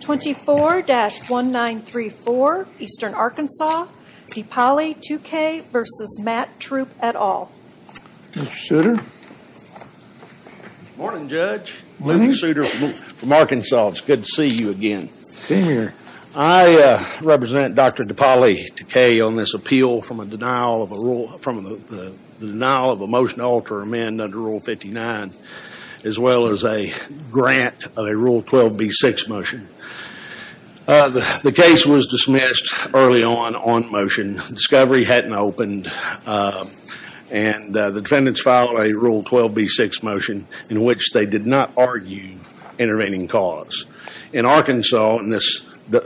24-1934 Eastern Arkansas, Depali Tukaye v. Matt Troup et al. Good morning Judge, this is Souter from Arkansas. It's good to see you again. I represent Dr. Depali Tukaye on this appeal from the denial of a motion to alter amendment under Rule 59 as well as a grant of a Rule 12b6 motion. The case was dismissed early on on motion. Discovery hadn't opened and the defendants filed a Rule 12b6 motion in which they did not argue intervening cause. In Arkansas, the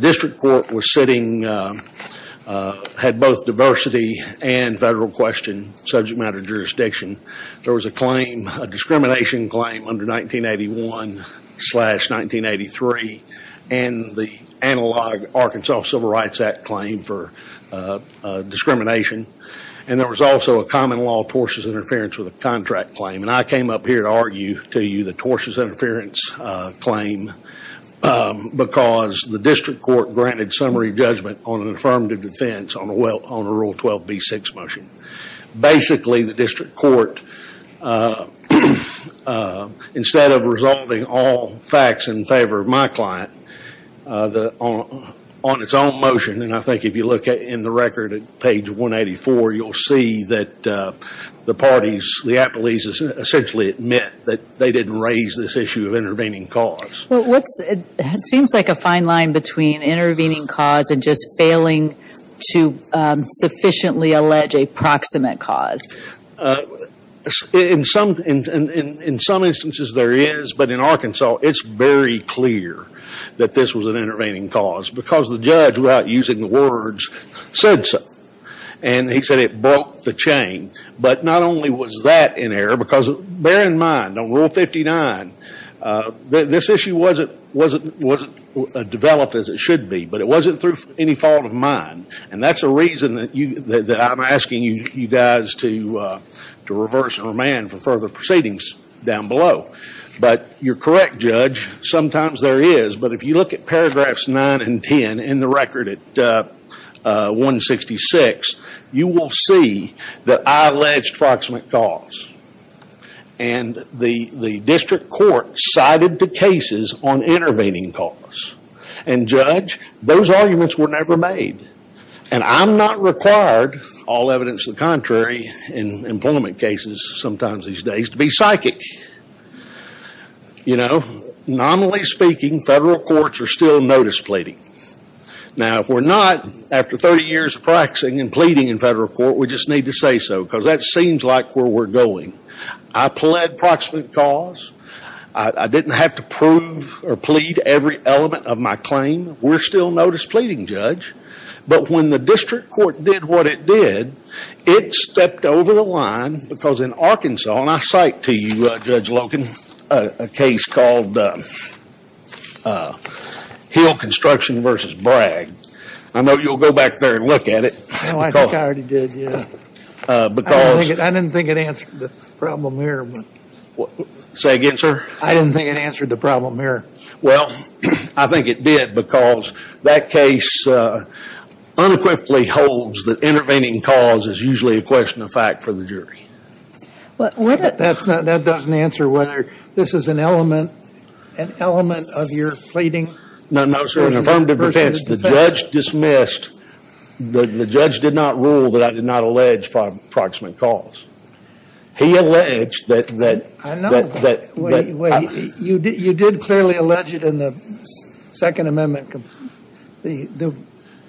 district court was sitting, had both diversity and federal question subject matter jurisdiction. There was a discrimination claim under 1981-1983 and the analog Arkansas Civil Rights Act claim for discrimination. And there was also a common law tortious interference with a contract claim. And I came up here to argue to you the tortious interference claim because the district court granted summary judgment on an affirmative defense on a Rule 12b6 motion. Basically, the district court, instead of resolving all facts in favor of my client on its own motion, and I think if you look in the record at page 184, you'll see that the parties, the appellees essentially admit that they didn't raise this issue of intervening cause. It seems like a fine line between intervening cause and just failing to sufficiently allege a proximate cause. In some instances there is, but in Arkansas, it's very clear that this was an intervening cause because the judge, without using the words, said so. And he said it broke the chain. But not only was that in error, because bear in mind on Rule 59, this issue wasn't developed as it should be, but it wasn't through any fault of mine. And that's a reason that I'm asking you guys to reverse our man for further proceedings down below. But you're correct, Judge, sometimes there is. But if you look at paragraphs 9 and 10 in the record at 166, you will see that I alleged proximate cause. And the district court cited the cases on intervening cause. And, Judge, those arguments were never made. And I'm not required, all evidence to the contrary in employment cases sometimes these days, to be psychic. You know, nominally speaking, federal courts are still notice pleading. Now, if we're not, after 30 years of practicing and pleading in federal court, we just need to say so because that seems like where we're going. I pled proximate cause. I didn't have to prove or plead every element of my claim. We're still notice pleading, Judge. But when the district court did what it did, it stepped over the line because in Arkansas, and I cite to you, Judge Loken, a case called Hill Construction v. Bragg. I know you'll go back there and look at it. No, I think I already did, yeah. I didn't think it answered the problem here. Say again, sir? I didn't think it answered the problem here. Well, I think it did because that case unquickly holds that intervening cause is usually a question of fact for the jury. That doesn't answer whether this is an element of your pleading. No, no, sir. In affirmative defense, the judge dismissed, the judge did not rule that I did not allege proximate cause. He alleged that- I know. You did clearly allege it in the Second Amendment, the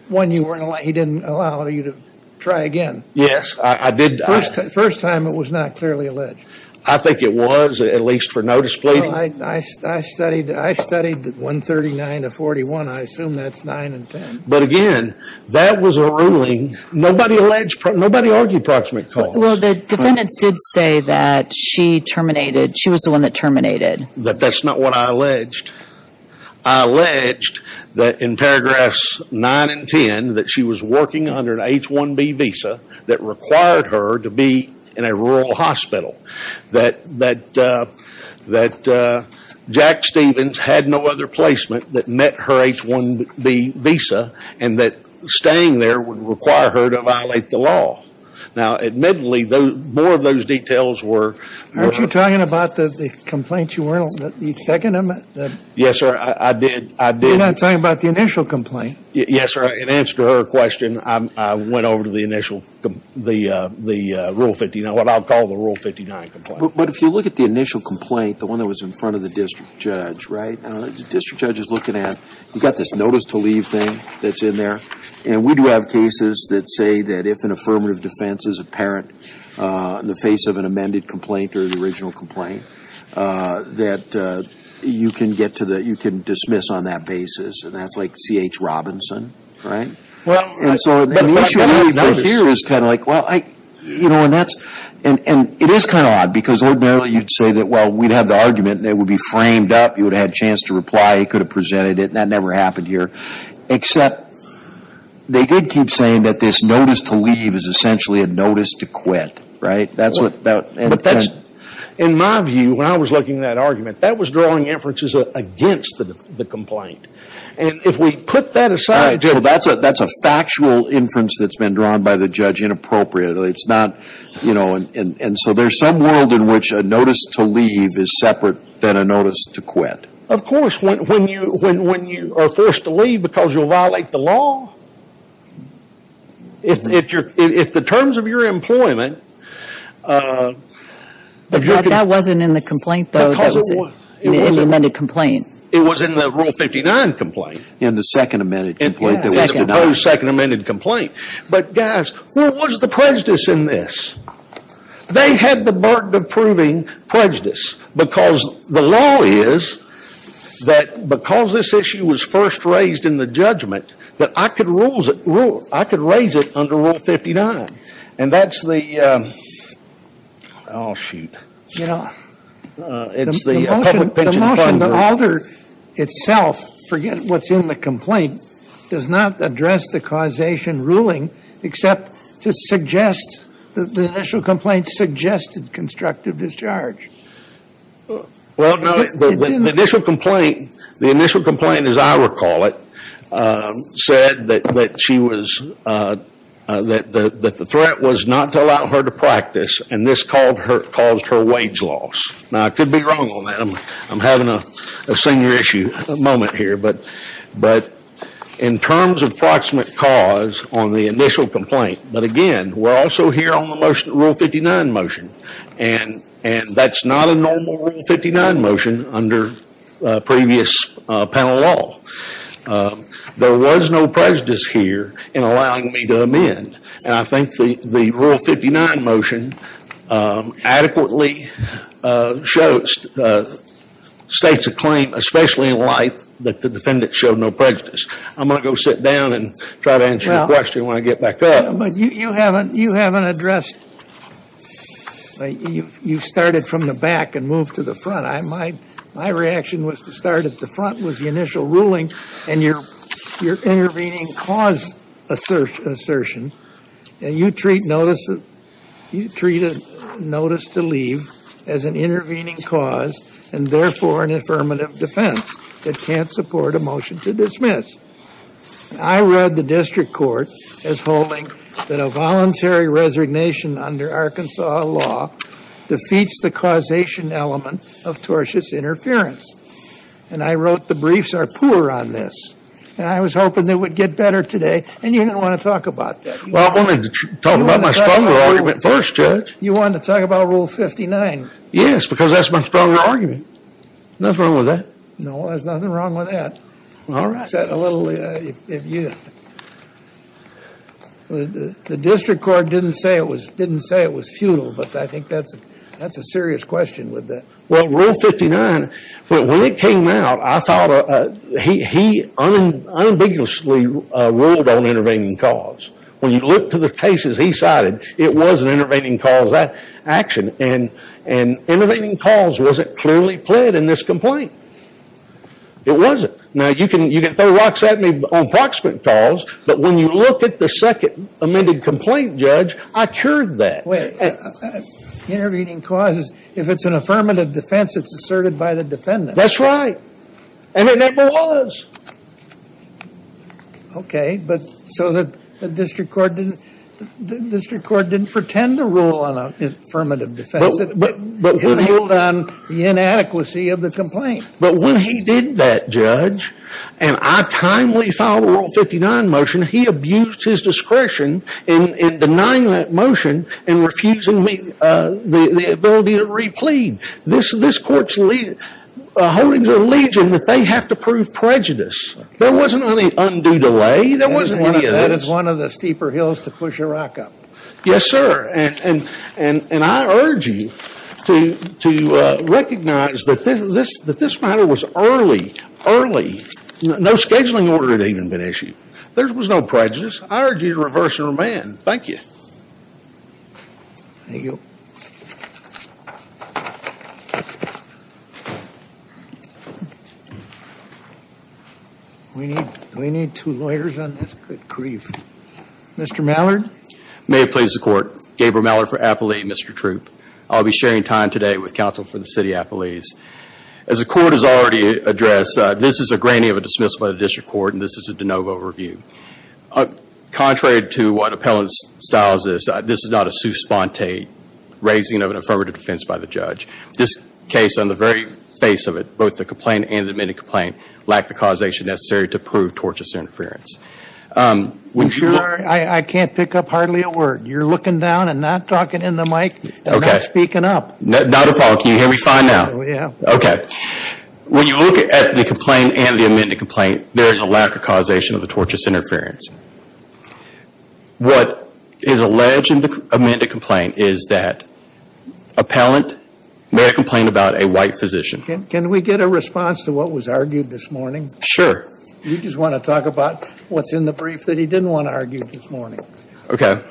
one he didn't allow you to try again. Yes, I did. First time it was not clearly alleged. I think it was, at least for notice pleading. I studied 139 to 41. I assume that's 9 and 10. But again, that was a ruling. Nobody argued proximate cause. Well, the defendants did say that she terminated, she was the one that terminated. That that's not what I alleged. I alleged that in paragraphs 9 and 10 that she was working under an H-1B visa that required her to be in a rural hospital. That Jack Stevens had no other placement that met her H-1B visa and that staying there would require her to violate the law. Now, admittedly, more of those details were- Aren't you talking about the complaint you were in on the Second Amendment? Yes, sir. I did. You're not talking about the initial complaint. Yes, sir. In answer to her question, I went over to the initial, the Rule 59, what I'll call the Rule 59 complaint. But if you look at the initial complaint, the one that was in front of the district judge, right? The district judge is looking at, you've got this notice to leave thing that's in there. And we do have cases that say that if an affirmative defense is apparent in the face of an amended complaint or the original complaint, that you can get to the, you can dismiss on that basis. And that's like C.H. Robinson, right? Well- And so the issue here is kind of like, well, I, you know, and that's, and it is kind of odd because ordinarily you'd say that, well, we'd have the argument and it would be framed up. You would have had a chance to reply. He could have presented it. That never happened here. Except they did keep saying that this notice to leave is essentially a notice to quit. That's what that- But that's, in my view, when I was looking at that argument, that was drawing inferences against the complaint. And if we put that aside- So that's a factual inference that's been drawn by the judge inappropriately. It's not, you know, and so there's some world in which a notice to leave is separate than a notice to quit. Of course, when you are forced to leave because you'll violate the law, if the terms of your employment- That wasn't in the complaint, though. That was in the amended complaint. It was in the Rule 59 complaint. In the second amended complaint that was denied. In the proposed second amended complaint. But, guys, what was the prejudice in this? They had the burden of proving prejudice. Because the law is that because this issue was first raised in the judgment, that I could raise it under Rule 59. And that's the, oh, shoot. You know, the motion to alter itself, forget what's in the complaint, does not address the causation ruling except to suggest that the initial complaint suggested constructive discharge. Well, no, the initial complaint, as I recall it, said that the threat was not to allow her to practice. And this caused her wage loss. Now, I could be wrong on that. I'm having a senior issue moment here. But in terms of proximate cause on the initial complaint, but again, we're also here on the Rule 59 motion. And that's not a normal Rule 59 motion under previous panel law. There was no prejudice here in allowing me to amend. And I think the Rule 59 motion adequately shows, states a claim, especially in life, that the defendant showed no prejudice. I'm going to go sit down and try to answer your question when I get back up. But you haven't addressed, you started from the back and moved to the front. My reaction was to start at the front was the initial ruling. And you're intervening cause assertion. And you treat notice to leave as an intervening cause and therefore an affirmative defense. It can't support a motion to dismiss. I read the district court as holding that a voluntary resignation under Arkansas law defeats the causation element of tortious interference. And I wrote the briefs are poor on this. And I was hoping it would get better today. And you didn't want to talk about that. Well, I wanted to talk about my stronger argument first, Judge. You wanted to talk about Rule 59. Yes, because that's my stronger argument. Nothing wrong with that. No, there's nothing wrong with that. All right. The district court didn't say it was futile. But I think that's a serious question with that. Well, Rule 59, when it came out, I thought he unambiguously ruled on intervening cause. When you look to the cases he cited, it was an intervening cause action. And intervening cause wasn't clearly played in this complaint. It wasn't. Now, you can throw rocks at me on proximate calls. But when you look at the second amended complaint, Judge, I cured that. Intervening cause, if it's an affirmative defense, it's asserted by the defendant. That's right. And it never was. Okay. But so the district court didn't pretend to rule on an affirmative defense. He ruled on the inadequacy of the complaint. But when he did that, Judge, and I timely filed a Rule 59 motion, he abused his discretion in denying that motion and refusing me the ability to replead. This court's holding the legion that they have to prove prejudice. There wasn't any undue delay. There wasn't any of this. That is one of the steeper hills to push a rock up. Yes, sir. And I urge you to recognize that this matter was early, early. No scheduling order had even been issued. There was no prejudice. I urge you to reverse and remand. Thank you. Thank you. Do we need two lawyers on this? Good grief. Mr. Mallard? May it please the Court. Gabriel Mallard for Appelee, Mr. Troop. I'll be sharing time today with counsel for the City of Appelees. As the Court has already addressed, this is a grainy of a dismissal by the district court, and this is a de novo review. Contrary to what appellants' styles is, this is not a sous-spante raising of an affirmative defense by the judge. This case, on the very face of it, both the complaint and the amended complaint, lacked the causation necessary to prove tortuous interference. I'm sorry. I can't pick up hardly a word. You're looking down and not talking in the mic and not speaking up. Not a problem. Can you hear me fine now? Yes. Okay. When you look at the complaint and the amended complaint, there is a lack of causation of the tortuous interference. What is alleged in the amended complaint is that appellant made a complaint about a white physician. Can we get a response to what was argued this morning? Sure. You just want to talk about what's in the brief that he didn't want argued this morning. Okay.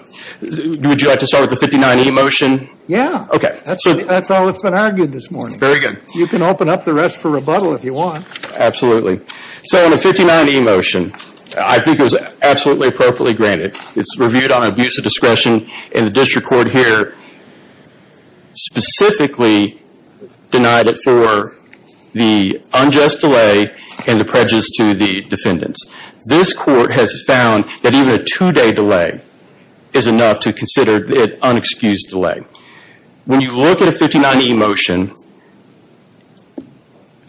Would you like to start with the 59E motion? Yeah. Okay. That's all that's been argued this morning. Very good. You can open up the rest for rebuttal if you want. Absolutely. So on the 59E motion, I think it was absolutely appropriately granted. It's reviewed on abuse of discretion, and the district court here specifically denied it for the unjust delay and the prejudice to the defendants. This court has found that even a two-day delay is enough to consider it an unexcused delay. When you look at a 59E motion,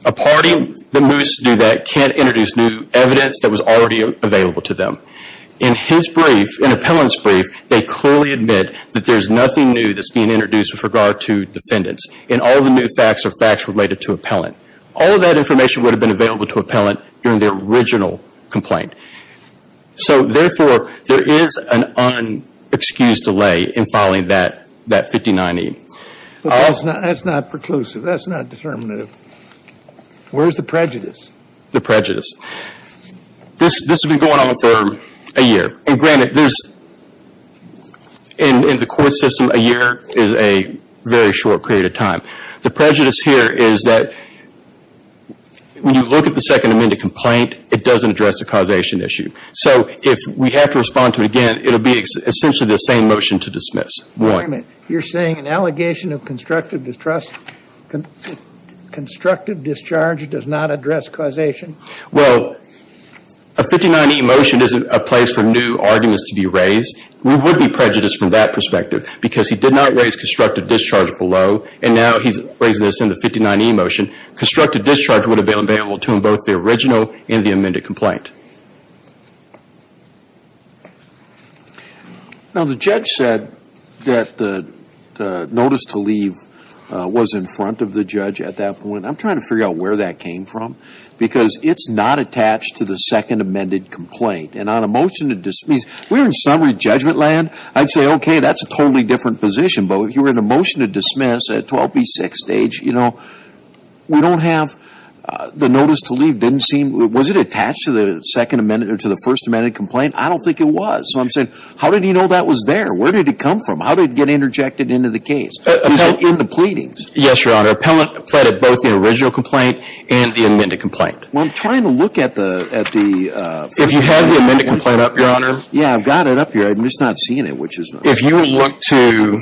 a party that moves to do that can't introduce new evidence that was already available to them. In his brief, in appellant's brief, they clearly admit that there's nothing new that's being introduced with regard to defendants, and all the new facts are facts related to appellant. All of that information would have been available to appellant during the original complaint. So, therefore, there is an unexcused delay in filing that 59E. That's not preclusive. That's not determinative. Where's the prejudice? The prejudice. This has been going on for a year. And granted, in the court system, a year is a very short period of time. The prejudice here is that when you look at the Second Amendment complaint, it doesn't address the causation issue. So if we have to respond to it again, it will be essentially the same motion to dismiss. You're saying an allegation of constructive discharge does not address causation? Well, a 59E motion isn't a place for new arguments to be raised. We would be prejudiced from that perspective because he did not raise constructive discharge below, and now he's raising this in the 59E motion. Constructive discharge would have been available to him both the original and the amended complaint. Now, the judge said that the notice to leave was in front of the judge at that point. I'm trying to figure out where that came from because it's not attached to the Second Amendment complaint. And on a motion to dismiss, we're in summary judgment land. I'd say, okay, that's a totally different position. But if you were in a motion to dismiss at 12B6 stage, you know, we don't have the notice to leave didn't seem. Was it attached to the Second Amendment or to the First Amendment complaint? I don't think it was. So I'm saying, how did he know that was there? Where did it come from? How did it get interjected into the case? Is it in the pleadings? Yes, Your Honor. Appellant pleaded both the original complaint and the amended complaint. Well, I'm trying to look at the First Amendment. If you have the amended complaint up, Your Honor. Yeah, I've got it up here. I'm just not seeing it, which is nice. If you look to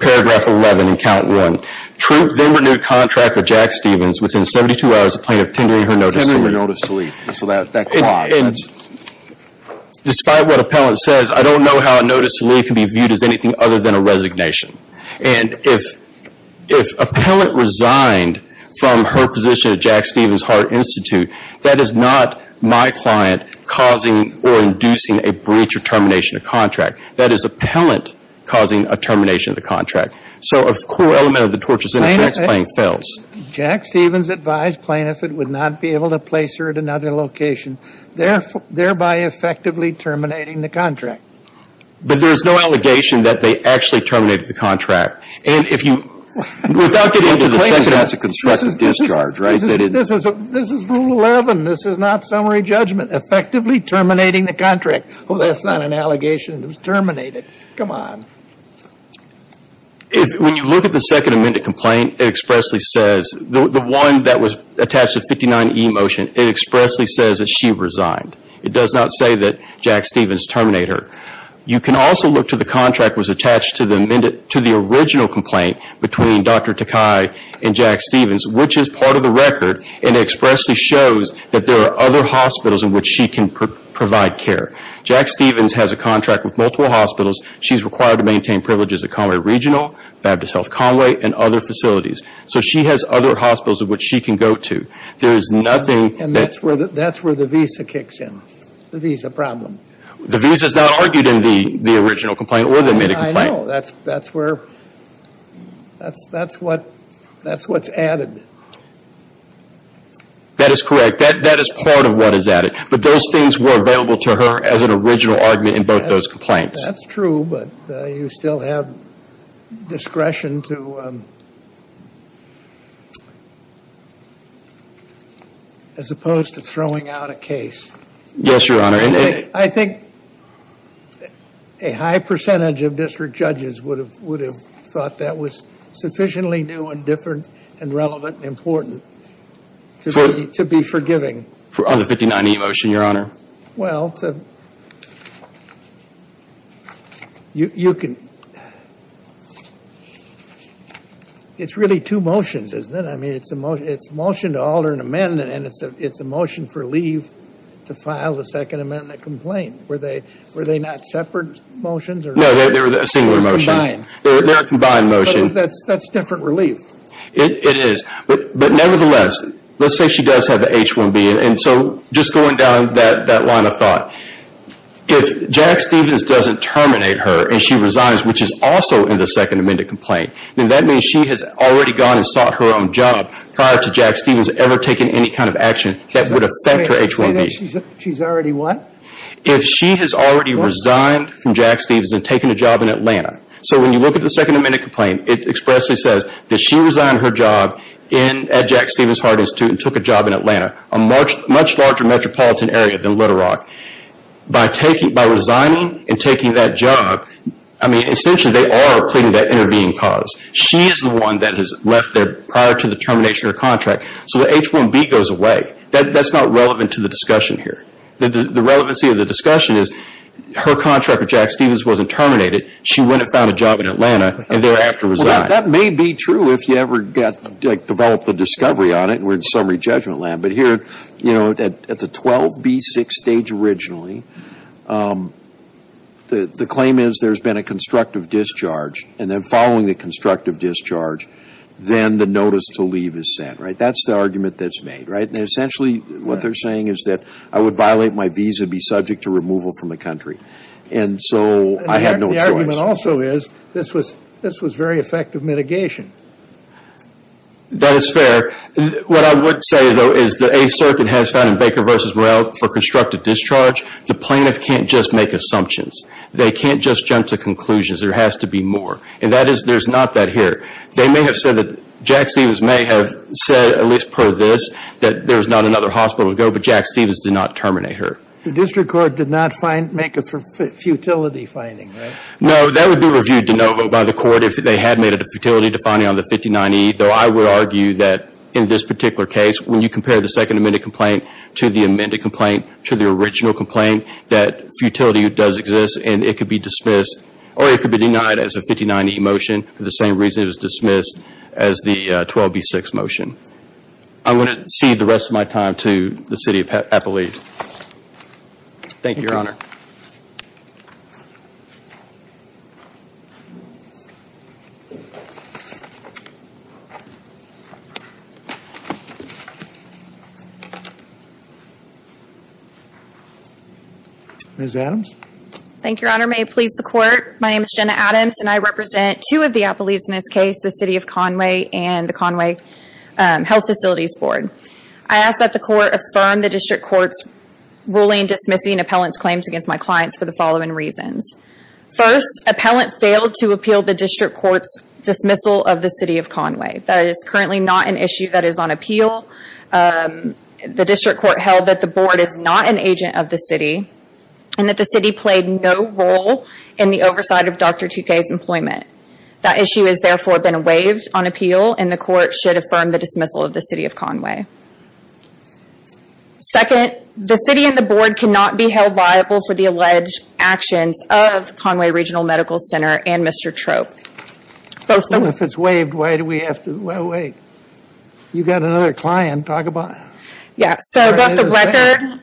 paragraph 11 in count 1, Troop then renewed contract with Jack Stevens within 72 hours of plaintiff tendering her notice to leave. Tendering notice to leave. So that clause. And despite what appellant says, I don't know how a notice to leave can be viewed as anything other than a resignation. And if appellant resigned from her position at Jack Stevens Hart Institute, that is not my client causing or inducing a breach or termination of contract. That is appellant causing a termination of the contract. So a core element of the torturous interference claim fails. Jack Stevens advised plaintiff it would not be able to place her at another location, thereby effectively terminating the contract. But there's no allegation that they actually terminated the contract. And if you, without getting into the second. That's a constructive discharge, right? This is Rule 11. This is not summary judgment. Effectively terminating the contract. Oh, that's not an allegation. It was terminated. Come on. When you look at the Second Amendment complaint, it expressly says, the one that was attached to 59E motion, it expressly says that she resigned. It does not say that Jack Stevens terminated her. You can also look to the contract that was attached to the original complaint between Dr. Takai and Jack Stevens, which is part of the record and expressly shows that there are other hospitals in which she can provide care. Jack Stevens has a contract with multiple hospitals. She's required to maintain privileges at Conway Regional, Baptist Health Conway, and other facilities. So she has other hospitals in which she can go to. There is nothing. And that's where the visa kicks in. The visa problem. The visa is not argued in the original complaint or the amended complaint. I know. That's where. That's what's added. That is correct. That is part of what is added. But those things were available to her as an original argument in both those complaints. That's true, but you still have discretion to, as opposed to throwing out a case. Yes, Your Honor. I think a high percentage of district judges would have thought that was sufficiently new and different and relevant and important to be forgiving. On the 59E motion, Your Honor. Well, you can. It's really two motions, isn't it? I mean, it's a motion to alter an amendment, and it's a motion for leave to file a second amendment complaint. Were they not separate motions? No, they were a singular motion. They're a combined motion. That's different relief. It is. But nevertheless, let's say she does have an H-1B. And so just going down that line of thought, if Jack Stephens doesn't terminate her and she resigns, which is also in the second amendment complaint, then that means she has already gone and sought her own job prior to Jack Stephens ever taking any kind of action that would affect her H-1B. She's already what? If she has already resigned from Jack Stephens and taken a job in Atlanta. So when you look at the second amendment complaint, it expressly says that she resigned her job at Jack Stephens Heart Institute and took a job in Atlanta, a much larger metropolitan area than Little Rock. By resigning and taking that job, I mean, essentially they are pleading that intervening cause. She is the one that has left there prior to the termination of her contract, so the H-1B goes away. That's not relevant to the discussion here. The relevancy of the discussion is her contract with Jack Stephens wasn't terminated. She went and found a job in Atlanta, and thereafter resigned. Well, that may be true if you ever develop the discovery on it, and we're in summary judgment land. But here, you know, at the 12B6 stage originally, the claim is there's been a constructive discharge, and then following the constructive discharge, then the notice to leave is sent, right? That's the argument that's made, right? And essentially what they're saying is that I would violate my visa and be subject to removal from the country. And so I had no choice. The argument also is this was very effective mitigation. That is fair. What I would say, though, is that a certain has found in Baker v. Morrell for constructive discharge. The plaintiff can't just make assumptions. They can't just jump to conclusions. There has to be more, and that is there's not that here. They may have said that Jack Stephens may have said, at least per this, that there was not another hospital to go, but Jack Stephens did not terminate her. The district court did not make a futility finding, right? No, that would be reviewed de novo by the court if they had made a futility defining on the 59E, though I would argue that in this particular case, when you compare the second amended complaint to the amended complaint to the original complaint, that futility does exist, and it could be dismissed, or it could be denied as a 59E motion for the same reason it was dismissed as the 12B6 motion. I'm going to cede the rest of my time to the City of Appalachia. Thank you, Your Honor. Ms. Adams? Thank you, Your Honor. May it please the Court, my name is Jenna Adams, and I represent two of the appellees in this case, the City of Conway and the Conway Health Facilities Board. I ask that the Court affirm the district court's ruling dismissing appellant's claims against my clients for the following reasons. First, appellant failed to appeal the district court's dismissal of the City of Conway. That is currently not an issue that is on appeal. The district court held that the board is not an agent of the city, and that the city played no role in the oversight of Dr. Tukay's employment. That issue has therefore been waived on appeal, and the Court should affirm the dismissal of the City of Conway. Second, the city and the board cannot be held liable for the alleged actions of Conway Regional Medical Center and Mr. Trope. If it's waived, why do we have to wait? You've got another client, talk about it.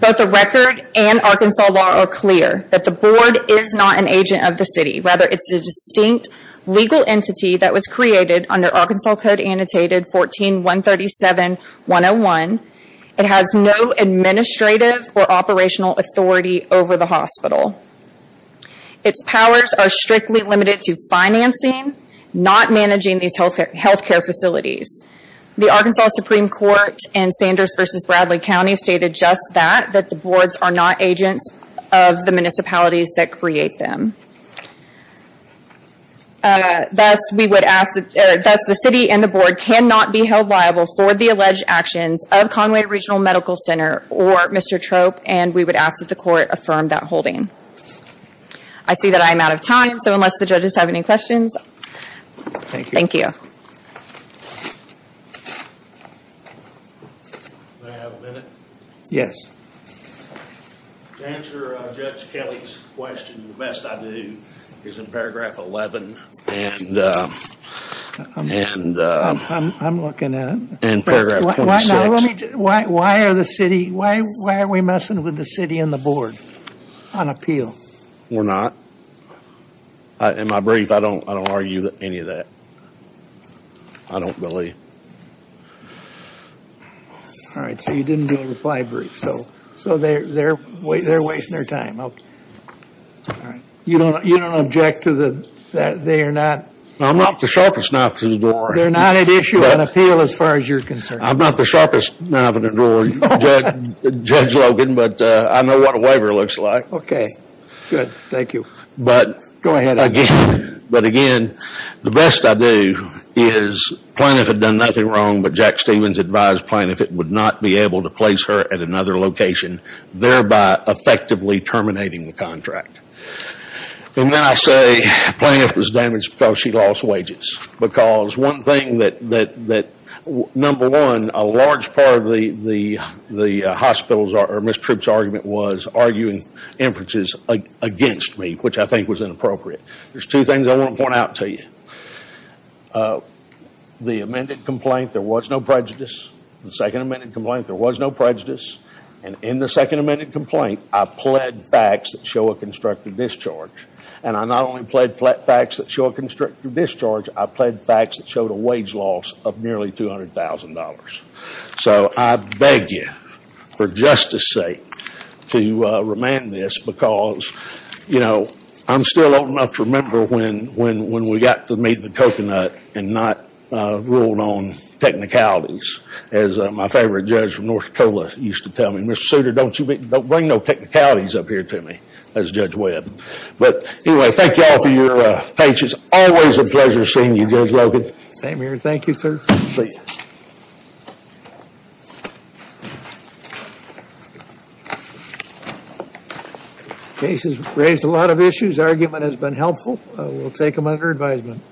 Both the record and Arkansas law are clear that the board is not an agent of the city. Rather, it's a distinct legal entity that was created under Arkansas Code Annotated 14-137-101. It has no administrative or operational authority over the hospital. Its powers are strictly limited to financing, not managing these healthcare facilities. The Arkansas Supreme Court in Sanders v. Bradley County stated just that, that the boards are not agents of the municipalities that create them. Thus, the city and the board cannot be held liable for the alleged actions of Conway Regional Medical Center or Mr. Trope, and we would ask that the court affirm that holding. I see that I am out of time, so unless the judges have any questions, thank you. Yeah. May I have a minute? Yes. To answer Judge Kelly's question the best I do is in paragraph 11 and paragraph 26. Why are we messing with the city and the board on appeal? We're not. In my brief, I don't argue any of that. I don't believe. All right, so you didn't do a reply brief, so they're wasting their time. You don't object to the fact that they are not? I'm not the sharpest knife in the drawer. They're not at issue on appeal as far as you're concerned. I'm not the sharpest knife in the drawer, Judge Logan, but I know what a waiver looks like. Okay, good. Thank you. Go ahead. But again, the best I do is Plaintiff had done nothing wrong, but Jack Stevens advised Plaintiff it would not be able to place her at another location, thereby effectively terminating the contract. And then I say Plaintiff was damaged because she lost wages. Because one thing that, number one, a large part of the hospitals or Ms. Trope's argument was arguing inferences against me, which I think was inappropriate. There's two things I want to point out to you. The amended complaint, there was no prejudice. The second amended complaint, there was no prejudice. And in the second amended complaint, I pled facts that show a constructive discharge. And I not only pled facts that show a constructive discharge, I pled facts that showed a wage loss of nearly $200,000. So I beg you, for justice sake, to remand this, because I'm still old enough to remember when we got to meet the coconut and not ruled on technicalities, as my favorite judge from North Dakota used to tell me. Mr. Souter, don't bring no technicalities up here to me as Judge Webb. But anyway, thank you all for your patience. Always a pleasure seeing you, Judge Logan. Same here. Thank you, sir. See you. The case has raised a lot of issues. The argument has been helpful. We'll take them under advisement.